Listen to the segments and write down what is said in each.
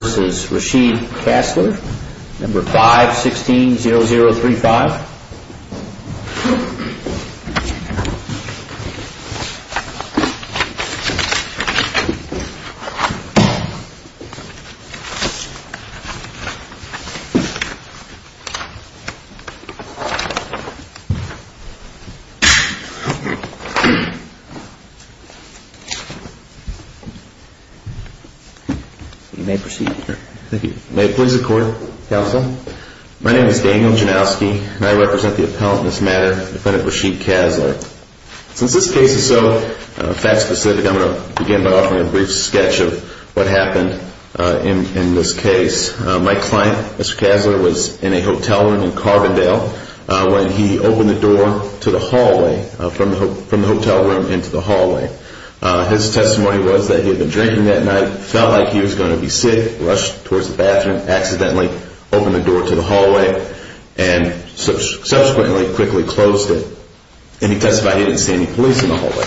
This is Rashid Casler, number 516-0035. You may proceed, sir. Thank you. May it please the court, counsel. My name is Daniel Janowski, and I represent the appellant in this matter, defendant Rashid Casler. Since this case is so fact-specific, I'm going to begin by offering a brief sketch of what happened in this case. My client, Mr. Casler, was in a hotel room in Carbondale when he opened the door to the hallway from the hotel room into the hallway. His testimony was that he had been drinking that night, felt like he was going to be sick, rushed towards the bathroom, accidentally opened the door to the hallway, and subsequently quickly closed it. And he testified he didn't see any police in the hallway.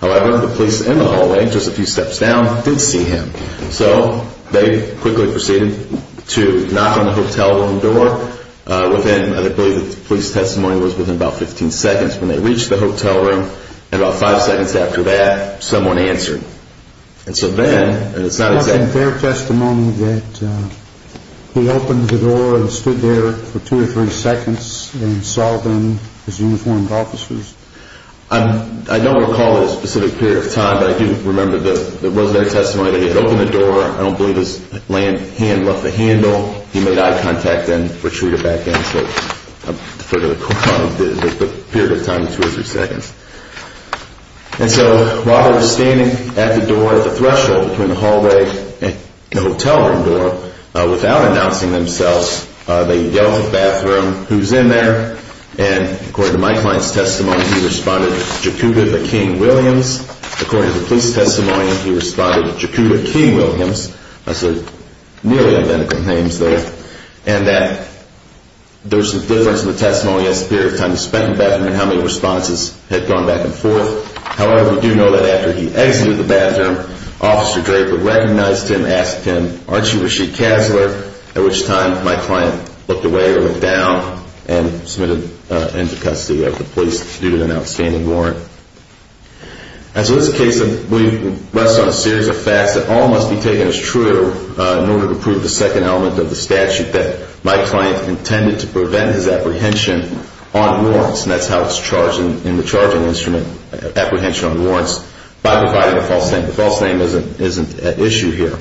However, the police in the hallway, just a few steps down, did see him. So they quickly proceeded to knock on the hotel room door. I believe the police testimony was within about 15 seconds when they reached the hotel room. And about five seconds after that, someone answered. And so then, and it's not exact. Was it their testimony that he opened the door and stood there for two or three seconds and saw them, his uniformed officers? I don't recall a specific period of time, but I do remember that it was their testimony that he had opened the door. I don't believe his hand left the handle. He made eye contact and retreated back in. So I'll defer to the court on the period of time of two or three seconds. And so Robert was standing at the door, at the threshold between the hallway and the hotel room door. Without announcing themselves, they yelled to the bathroom, who's in there? And according to my client's testimony, he responded, Jakuba the King Williams. According to the police testimony, he responded, Jakuba King Williams. That's nearly identical names there. And that there's a difference in the testimony as to the period of time he spent in the bathroom and how many responses had gone back and forth. However, we do know that after he exited the bathroom, Officer Draper recognized him and asked him, aren't you Rasheed Kasler? At which time my client looked away or looked down and submitted into custody of the police due to an outstanding warrant. And so this case rests on a series of facts that all must be taken as true in order to prove the second element of the statute that my client intended to prevent his apprehension on warrants. And that's how it's charged in the charging instrument, apprehension on warrants, by providing a false name. The false name isn't at issue here.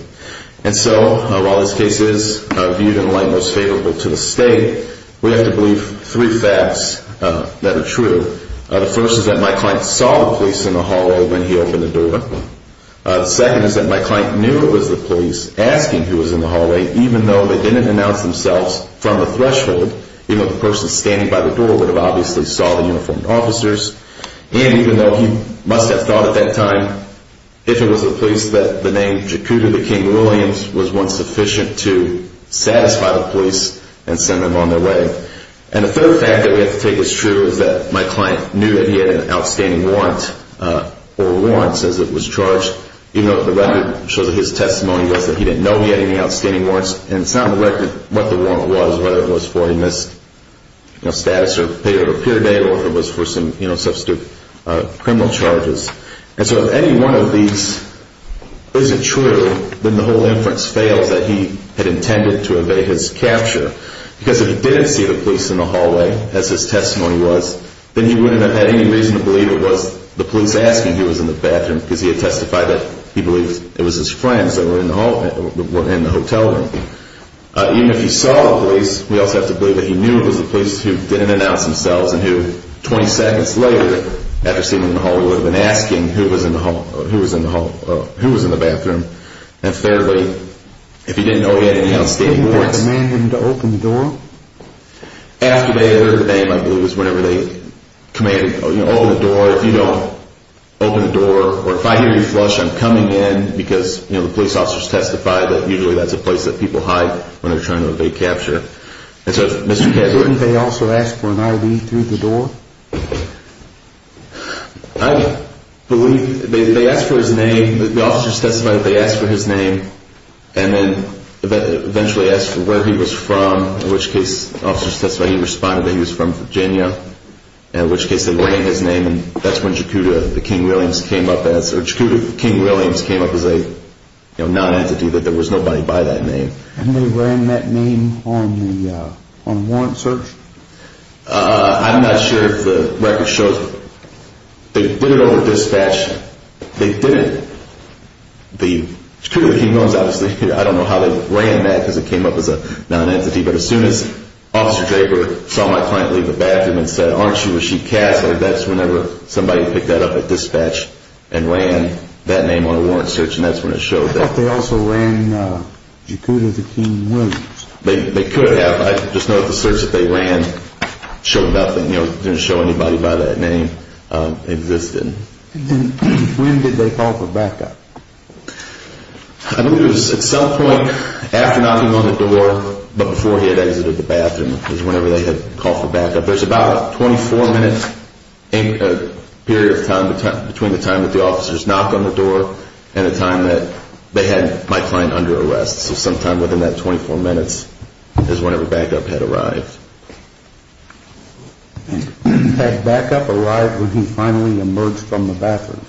And so while this case is viewed in light most favorable to the state, we have to believe three facts that are true. The first is that my client saw the police in the hallway when he opened the door. The second is that my client knew it was the police asking who was in the hallway, even though they didn't announce themselves from the threshold. Even though the person standing by the door would have obviously saw the uniformed officers. And even though he must have thought at that time if it was the police that the name Jakuba King Williams was one sufficient to satisfy the police and send them on their way. And the third fact that we have to take as true is that my client knew that he had an outstanding warrant or warrants as it was charged. Even though the record shows that his testimony was that he didn't know he had any outstanding warrants. And it's not on the record what the warrant was, whether it was for a missed status or payday or if it was for some, you know, substitute criminal charges. And so if any one of these isn't true, then the whole inference fails that he had intended to evade his capture. Because if he didn't see the police in the hallway, as his testimony was, then he wouldn't have had any reason to believe it was the police asking who was in the bathroom. Because he had testified that he believed it was his friends that were in the hotel room. Even if he saw the police, we also have to believe that he knew it was the police who didn't announce themselves and who 20 seconds later after seeing them in the hallway would have been asking who was in the bathroom. And fairly, if he didn't know he had any outstanding warrants. Didn't they command him to open the door? After they heard the name, I believe it was whenever they commanded, you know, open the door. If you don't open the door or if I hear you flush, I'm coming in. Because, you know, the police officers testify that usually that's a place that people hide when they're trying to evade capture. And so, Mr. Kedward. Didn't they also ask for an I.D. through the door? I believe they asked for his name. The officers testified that they asked for his name. And then eventually asked for where he was from. In which case, the officers testified he responded that he was from Virginia. In which case, they ran his name. And that's when Jakuda, the King Williams, came up as a, you know, non-entity. That there was nobody by that name. And they ran that name on the warrant search? I'm not sure if the record shows. They did it over dispatch. They did it. The Jakuda, the King Williams, obviously. I don't know how they ran that because it came up as a non-entity. But as soon as Officer Draper saw my client leave the bathroom and said, aren't you Rasheed Casler? That's whenever somebody picked that up at dispatch and ran that name on a warrant search. And that's when it showed that. But they also ran Jakuda, the King Williams. They could have. I just know that the search that they ran showed nothing. It didn't show anybody by that name existed. When did they call for backup? I believe it was at some point after knocking on the door but before he had exited the bathroom. It was whenever they had called for backup. There's about a 24-minute period of time between the time that the officers knocked on the door and the time that they had my client under arrest. So sometime within that 24 minutes is whenever backup had arrived. Had backup arrived when he finally emerged from the bathroom?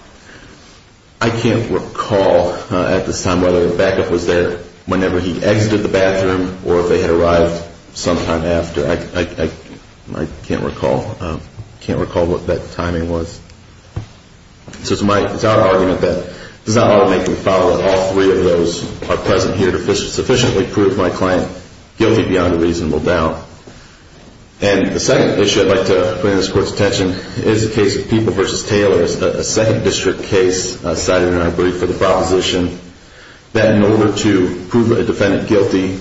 I can't recall at this time whether backup was there whenever he exited the bathroom or if they had arrived sometime after. I can't recall. I can't recall what that timing was. So it's our argument that this is not lawmaking foul. All three of those are present here to sufficiently prove my client guilty beyond a reasonable doubt. And the second issue I'd like to bring to this Court's attention is the case of People v. Taylor, a second district case cited in our brief for the proposition that in order to prove a defendant guilty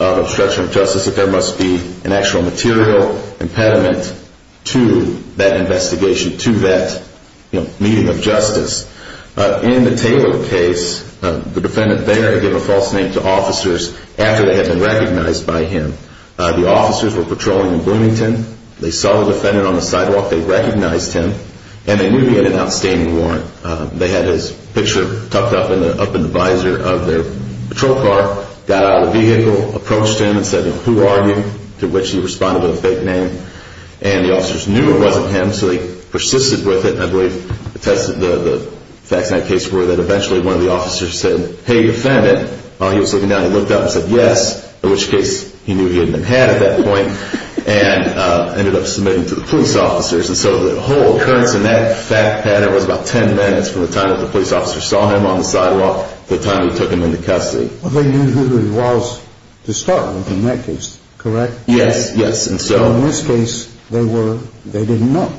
of obstruction of justice, that there must be an actual material impediment to that investigation, to that meeting of justice. In the Taylor case, the defendant there had given a false name to officers after they had been recognized by him. The officers were patrolling in Bloomington. They saw the defendant on the sidewalk. They recognized him. And they knew he had an outstanding warrant. They had his picture tucked up in the visor of their patrol car, got out of the vehicle, approached him and said, who are you? To which he responded with a fake name. And the officers knew it wasn't him, so they persisted with it. I believe the facts in that case were that eventually one of the officers said, hey, defendant. He was looking down. He looked up and said, yes, in which case he knew he hadn't been had at that point, and ended up submitting to the police officers. And so the whole occurrence in that fact pattern was about 10 minutes from the time that the police officer saw him on the sidewalk to the time he took him into custody. They knew who he was to start with in that case, correct? Yes, yes. And so in this case, they didn't know.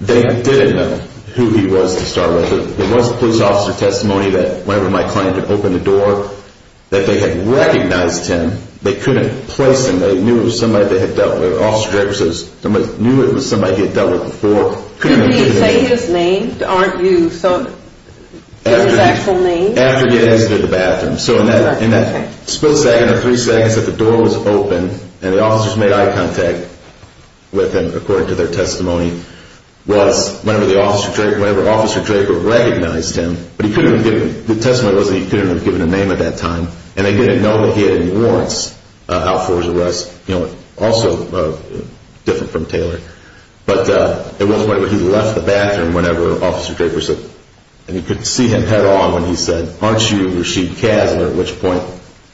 They didn't know who he was to start with. There was a police officer testimony that whenever my client had opened the door, that they had recognized him. They couldn't place him. They knew it was somebody they had dealt with. The officer director says somebody knew it was somebody he had dealt with before. You didn't say his name, aren't you? So it was his actual name? After getting into the bathroom. So in that split second or three seconds that the door was open and the officers made eye contact with him, according to their testimony, was whenever Officer Draper recognized him. The testimony was that he couldn't have given a name at that time, and they didn't know that he had any warrants out for his arrest. Also different from Taylor. But it was whenever he left the bathroom, whenever Officer Draper said, and you could see him head on when he said, aren't you Rasheed Kasner? At which point,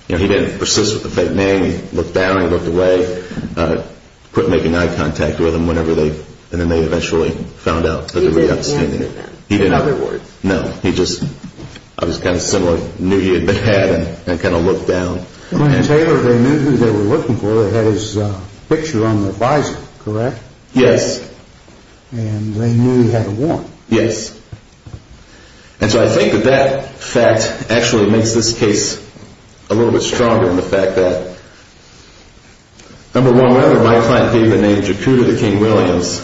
he didn't persist with the fake name. He looked down and he looked away. Quit making eye contact with him whenever they eventually found out. He didn't have a name? No. He just was kind of similar. Knew he had been had and kind of looked down. When Taylor, they knew who they were looking for. They had his picture on the visor, correct? Yes. And they knew he had a warrant? Yes. And so I think that that fact actually makes this case a little bit stronger in the fact that, number one, whenever my client gave the name Jakuta the King Williams,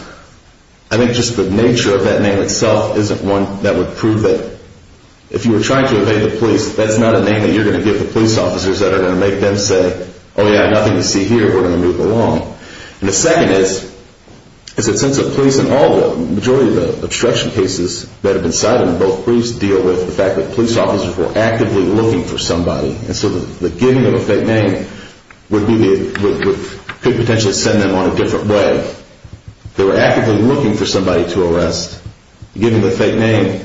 I think just the nature of that name itself isn't one that would prove that if you were trying to evade the police, that's not a name that you're going to give the police officers that are going to make them say, oh yeah, nothing to see here. We're going to move along. And the second is that since the police in all the majority of the obstruction cases that have been cited in both briefs deal with the fact that police officers were actively looking for somebody, and so the giving of a fake name could potentially send them on a different way. They were actively looking for somebody to arrest. Giving the fake name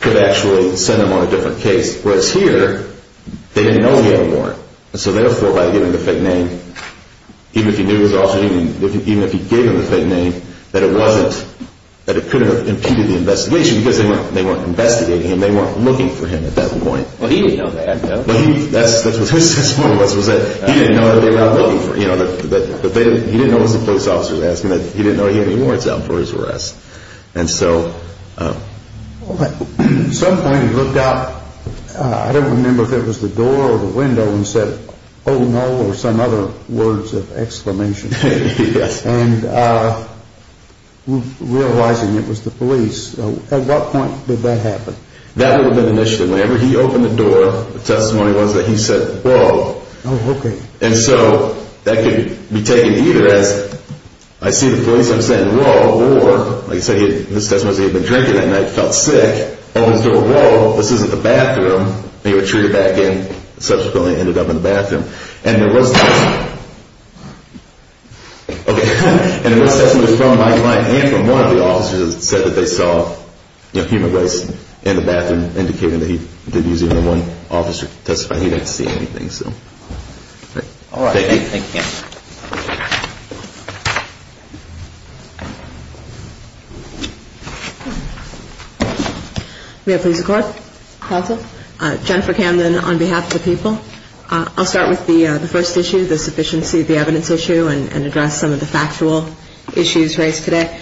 could actually send them on a different case. Whereas here, they didn't know he had a warrant. So therefore, by giving the fake name, even if he knew his officer, even if he gave him the fake name, that it couldn't have impeded the investigation because they weren't investigating him. They weren't looking for him at that point. Well, he didn't know that, though. That's what his point was, was that he didn't know that they were out looking for him. He didn't know it was the police officers asking that. He didn't know he had any warrants out for his arrest. At some point he looked out. I don't remember if it was the door or the window and said, oh, no, or some other words of exclamation. Yes. And realizing it was the police. At what point did that happen? That would have been the initiative. Whenever he opened the door, the testimony was that he said, whoa. Oh, okay. And so that could be taken either as, I see the police, I'm saying, whoa, or, like I said, this testimony was he had been drinking that night, felt sick. And he said, whoa, this isn't the bathroom. He retreated back in and subsequently ended up in the bathroom. And there was testimony. Okay. And there was testimony from my client and from one of the officers that said that they saw human waste in the bathroom, indicating that he didn't use even one officer to testify. He didn't see anything. All right. Thank you. Thank you. May I please record? Also. Jennifer Camden on behalf of the people. I'll start with the first issue, the sufficiency of the evidence issue, and address some of the factual issues raised today.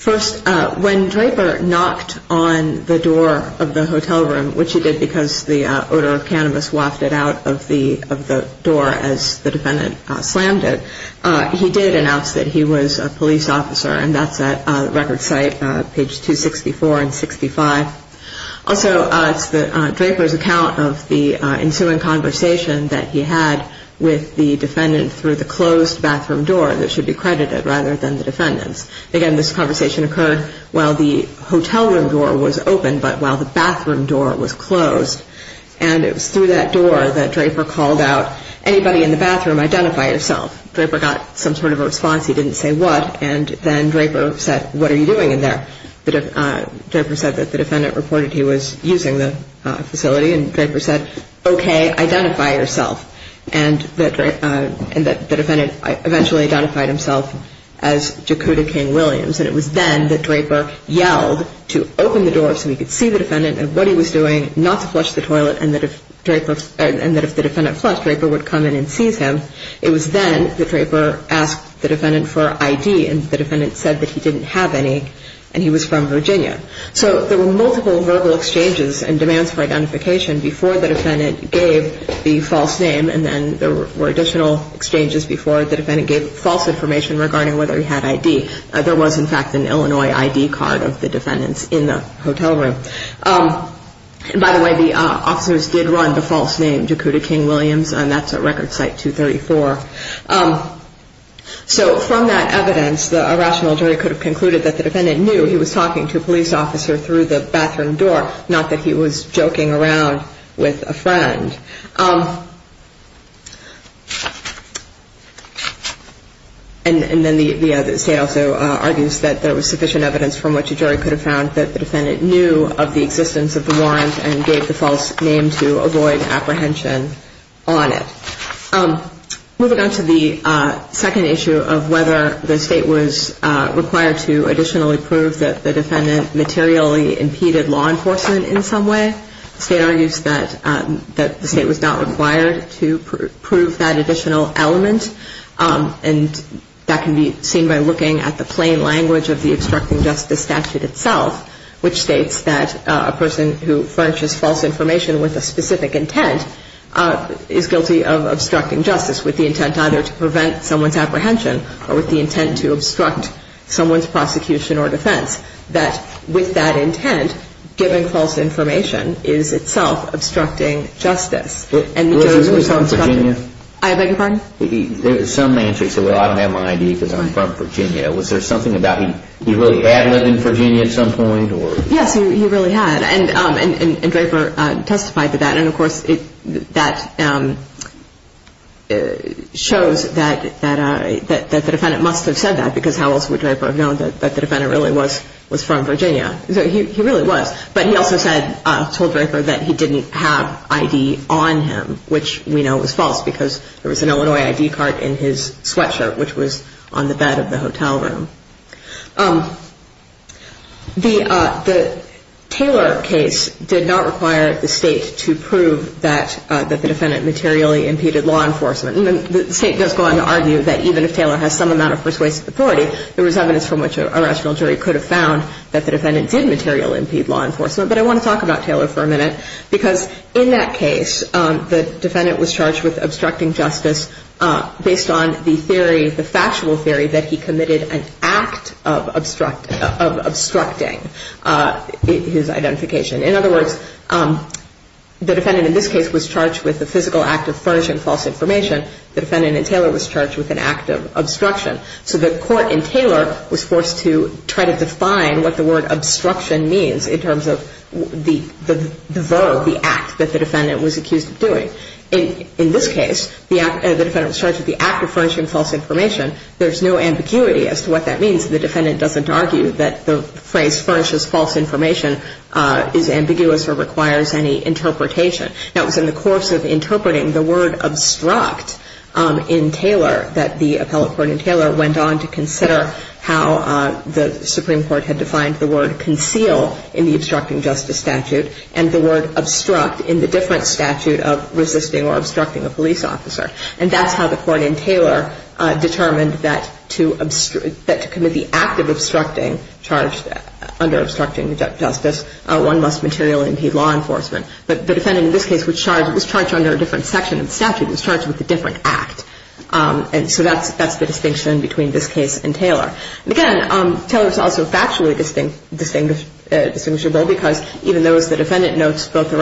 First, when Draper knocked on the door of the hotel room, which he did because the odor of cannabis wafted out of the door as the defendant slammed it, he did announce that he was a police officer, and that's at the record site, page 264 and 65. Also, it's Draper's account of the ensuing conversation that he had with the defendant through the closed bathroom door that should be credited rather than the defendant's. Again, this conversation occurred while the hotel room door was open, but while the bathroom door was closed. And it was through that door that Draper called out, anybody in the bathroom, identify yourself. Draper got some sort of a response. He didn't say what. And then Draper said, what are you doing in there? Draper said that the defendant reported he was using the facility. And Draper said, okay, identify yourself. And the defendant eventually identified himself as Jakuta King-Williams. And it was then that Draper yelled to open the door so he could see the defendant and what he was doing, not to flush the toilet, and that if the defendant flushed, Draper would come in and seize him. It was then that Draper asked the defendant for ID, and the defendant said that he didn't have any and he was from Virginia. So there were multiple verbal exchanges and demands for identification before the defendant gave the false name, and then there were additional exchanges before the defendant gave false information regarding whether he had ID. There was, in fact, an Illinois ID card of the defendant's in the hotel room. And by the way, the officers did run the false name Jakuta King-Williams, and that's at Record Site 234. So from that evidence, the irrational jury could have concluded that the defendant knew he was talking to a police officer through the bathroom door, not that he was joking around with a friend. And then the state also argues that there was sufficient evidence from which a jury could have found that the defendant knew of the existence of the warrant and gave the false name to avoid apprehension on it. Moving on to the second issue of whether the state was required to additionally prove that the defendant materially impeded law enforcement in some way, the state argues that the state was not required to prove that additional element, and that can be seen by looking at the plain language of the obstructing justice statute itself, which states that a person who furnishes false information with a specific intent is guilty of obstructing justice with the intent either to prevent someone's apprehension or with the intent to obstruct someone's prosecution or defense, that with that intent, given false information, is itself obstructing justice. And the jurors were so instructed. Was he from Virginia? I beg your pardon? There was some answer. He said, well, I don't have my ID because I'm from Virginia. Was there something about he really had lived in Virginia at some point? Yes, he really had. And Draper testified to that. And, of course, that shows that the defendant must have said that because how else would Draper have known that the defendant really was from Virginia? So he really was. But he also said, told Draper, that he didn't have ID on him, which we know was false because there was an Illinois ID card in his sweatshirt, which was on the bed of the hotel room. The Taylor case did not require the state to prove that the defendant materially impeded law enforcement. And the state does go on to argue that even if Taylor has some amount of persuasive authority, there was evidence from which a rational jury could have found that the defendant did materially impede law enforcement. But I want to talk about Taylor for a minute because in that case the defendant was charged with obstructing justice based on the theory, the factual theory, that he committed an act of obstructing his identification. In other words, the defendant in this case was charged with the physical act of furnishing false information. The defendant in Taylor was charged with an act of obstruction. So the court in Taylor was forced to try to define what the word obstruction means in terms of the verb, the act, that the defendant was accused of doing. In this case, the defendant was charged with the act of furnishing false information. There's no ambiguity as to what that means. The defendant doesn't argue that the phrase furnishes false information is ambiguous or requires any interpretation. Now, it was in the course of interpreting the word obstruct in Taylor that the appellate court in Taylor went on to consider how the Supreme Court had defined the word conceal in the obstructing justice statute and the word obstruct in the different statute of resisting or obstructing a police officer. And that's how the court in Taylor determined that to commit the act of obstructing, charged under obstructing justice, one must materially impede law enforcement. But the defendant in this case was charged under a different section of the statute, was charged with a different act. And so that's the distinction between this case and Taylor. Again, Taylor is also factually distinguishable because even though, as the defendant notes, both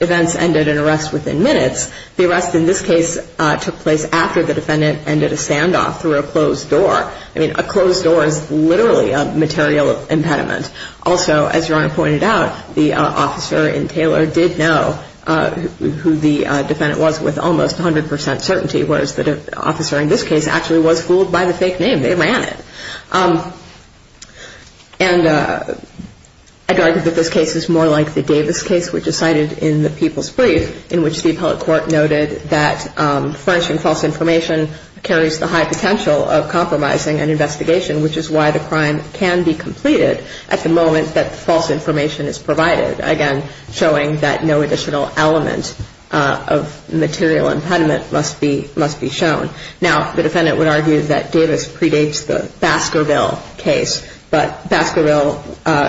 events ended in arrest within minutes, the arrest in this case took place after the defendant ended a standoff through a closed door. I mean, a closed door is literally a material impediment. Also, as Your Honor pointed out, the officer in Taylor did know who the defendant was with almost 100 percent certainty, whereas the officer in this case actually was fooled by the fake name. They ran it. And I'd argue that this case is more like the Davis case, which is cited in the People's Brief, in which the appellate court noted that furnishing false information carries the high potential of compromising an investigation, which is why the crime can be completed at the moment that the false information is provided. Again, showing that no additional element of material impediment must be shown. Now, the defendant would argue that Davis predates the Baskerville case, but Baskerville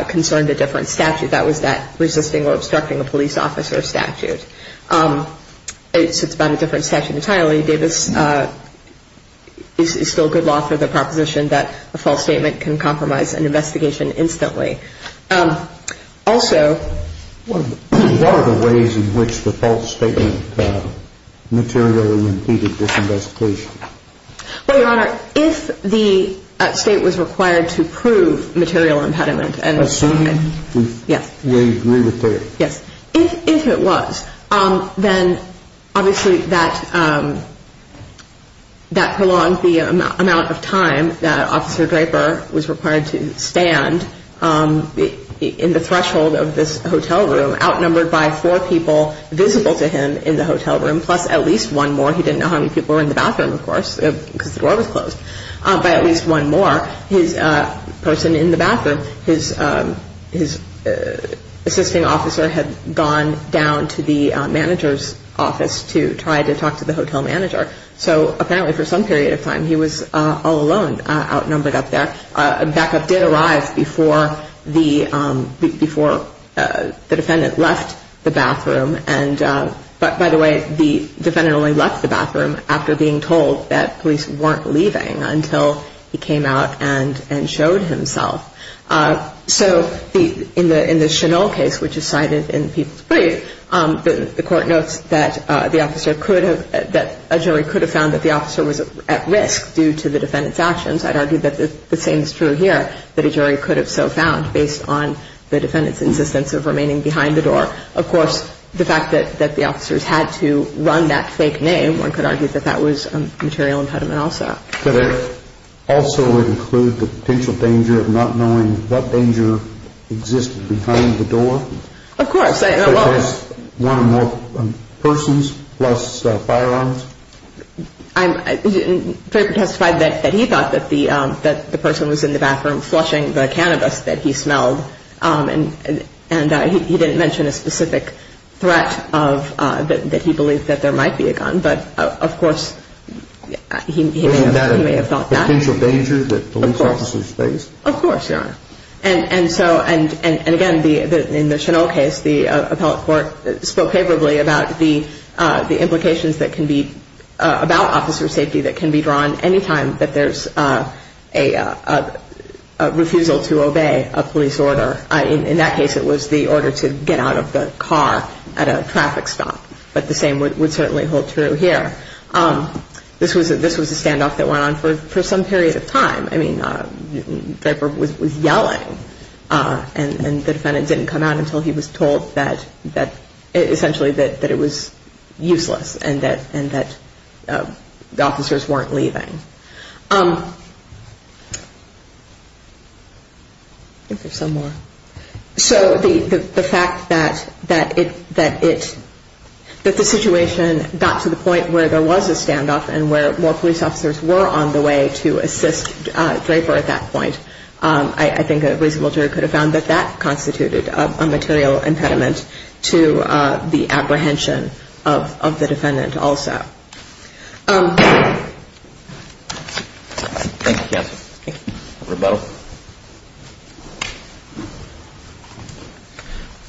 concerned a different statute. That was that resisting or obstructing a police officer statute. It's about a different statute entirely. Davis is still good law for the proposition that a false statement can compromise an investigation instantly. Also... What are the ways in which the false statement materially impeded this investigation? Well, Your Honor, if the state was required to prove material impediment... Assuming we agree with it. Yes. If it was, then obviously that prolonged the amount of time that Officer Draper was required to stand in the threshold of this hotel room, outnumbered by four people visible to him in the hotel room, plus at least one more. He didn't know how many people were in the bathroom, of course, because the door was closed. But at least one more person in the bathroom. His assisting officer had gone down to the manager's office to try to talk to the hotel manager. So apparently for some period of time he was all alone outnumbered up there. A backup did arrive before the defendant left the bathroom. And by the way, the defendant only left the bathroom after being told that police weren't leaving until he came out and showed himself. So in the Chanel case, which is cited in People's Brief, the court notes that a jury could have found that the officer was at risk due to the defendant's actions. I'd argue that the same is true here, that a jury could have so found based on the defendant's insistence of remaining behind the door. Of course, the fact that the officers had to run that fake name, one could argue that that was a material impediment also. Could it also include the potential danger of not knowing what danger existed behind the door? Of course. One or more persons plus firearms? I'm very petrified that he thought that the person was in the bathroom flushing the cannabis that he smelled. And he didn't mention a specific threat that he believed that there might be a gun. But of course, he may have thought that. Was that a potential danger that police officers faced? Of course, Your Honor. And so, and again, in the Chanel case, the appellate court spoke favorably about the implications that can be about officer safety that can be drawn any time that there's a refusal to obey a police order. In that case, it was the order to get out of the car at a traffic stop. But the same would certainly hold true here. This was a standoff that went on for some period of time. I mean, Viper was yelling. And the defendant didn't come out until he was told that essentially that it was useless and that the officers weren't leaving. I think there's some more. So the fact that the situation got to the point where there was a standoff and where more police officers were on the way to assist Draper at that point, I think a reasonable jury could have found that that constituted a material impediment to the apprehension of the defendant also. Thank you, counsel. Thank you. Rebuttal.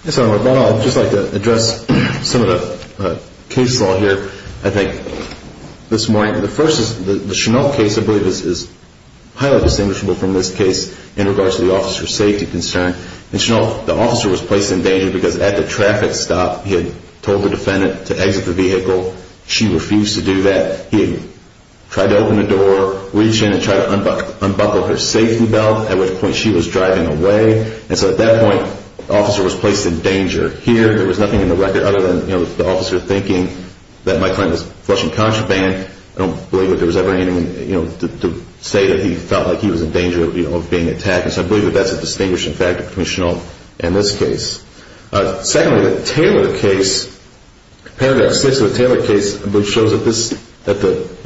Yes, Your Honor. Rebuttal. I'd just like to address some of the case law here, I think, this morning. The first is the Chanoff case I believe is highly distinguishable from this case in regards to the officer's safety concern. In Chanoff, the officer was placed in danger because at the traffic stop, he had told the defendant to exit the vehicle. She refused to do that. He had tried to open the door, reach in and try to unbuckle her safety belt, at which point she was driving away. And so at that point, the officer was placed in danger. Here, there was nothing in the record other than the officer thinking that my client was flushing contraband. I don't believe that there was ever anything to say that he felt like he was in danger of being attacked. So I believe that that's a distinguishing factor between Chanoff and this case. Secondly, the Taylor case, Paragraph 6 of the Taylor case, I believe shows that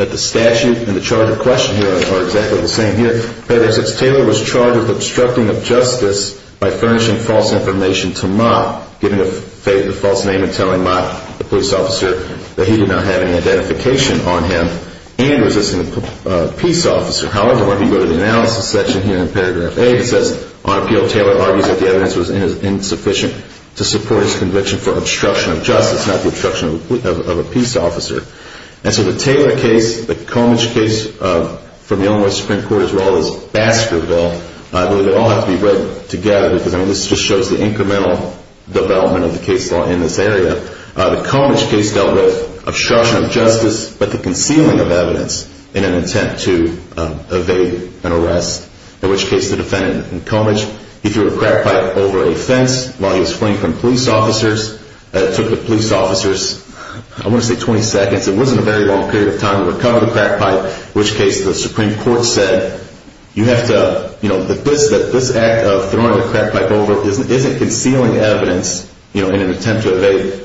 the statute and the charge of question here are exactly the same here. In Paragraph 6, Taylor was charged with obstructing of justice by furnishing false information to Mott, giving the false name and telling Mott, the police officer, that he did not have any identification on him and resisting a peace officer. However, when we go to the analysis section here in Paragraph 8, it says, on appeal, Taylor argues that the evidence was insufficient to support his conviction for obstruction of justice, not the obstruction of a peace officer. And so the Taylor case, the Comich case from the Illinois Supreme Court, as well as Baskerville, I believe they all have to be read together because this just shows the incremental development of the case law in this area. The Comich case dealt with obstruction of justice, but the concealing of evidence in an attempt to evade an arrest, in which case the defendant in Comich, he threw a crack pipe over a fence while he was fleeing from police officers. It took the police officers, I want to say 20 seconds. It wasn't a very long period of time to recover the crack pipe, in which case the Supreme Court said, you have to, you know, that this act of throwing the crack pipe over isn't concealing evidence, you know, in an attempt to evade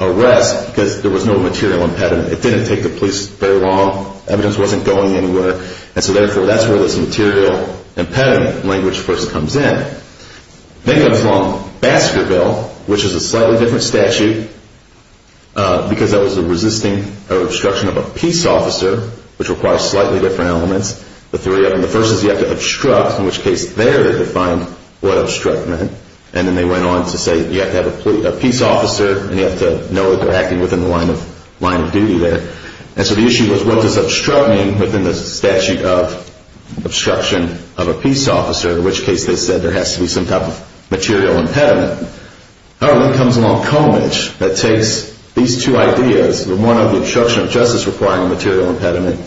arrest because there was no material impediment. It didn't take the police very long. Evidence wasn't going anywhere. And so therefore, that's where this material impediment language first comes in. Then comes along Baskerville, which is a slightly different statute because that was a resisting or obstruction of a peace officer, which requires slightly different elements, the three of them. The first is you have to obstruct, in which case there they defined what obstruct meant. And then they went on to say you have to have a peace officer and you have to know that they're acting within the line of duty there. And so the issue was what does obstruct mean within the statute of obstruction of a peace officer, in which case they said there has to be some type of material impediment. Then comes along Comidge that takes these two ideas, one of the obstruction of justice requiring a material impediment,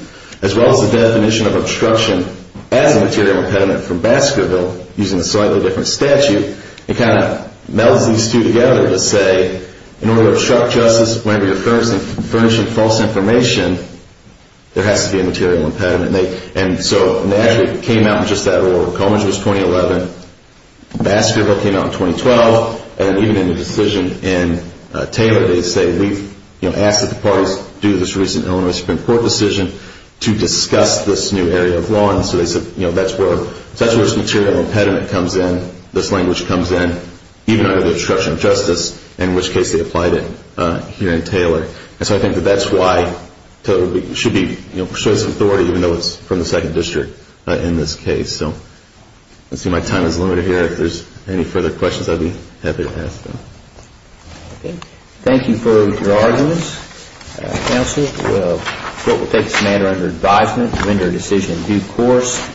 as well as the definition of obstruction as a material impediment from Baskerville, using a slightly different statute, and kind of melds these two together to say, in order to obstruct justice whenever you're furnishing false information, there has to be a material impediment. And so they actually came out in just that order. Comidge was 2011. Baskerville came out in 2012. And even in the decision in Taylor, they say, we've asked that the parties do this recent Illinois Supreme Court decision to discuss this new area of law. And so they said that's where this material impediment comes in, this language comes in, even under the obstruction of justice, in which case they applied it here in Taylor. And so I think that that's why Taylor should be, you know, should have some authority, even though it's from the 2nd District in this case. So I see my time is limited here. If there's any further questions, I'd be happy to ask them. Okay. Thank you for your arguments, counsel. We'll take this matter under advisement and render a decision in due course.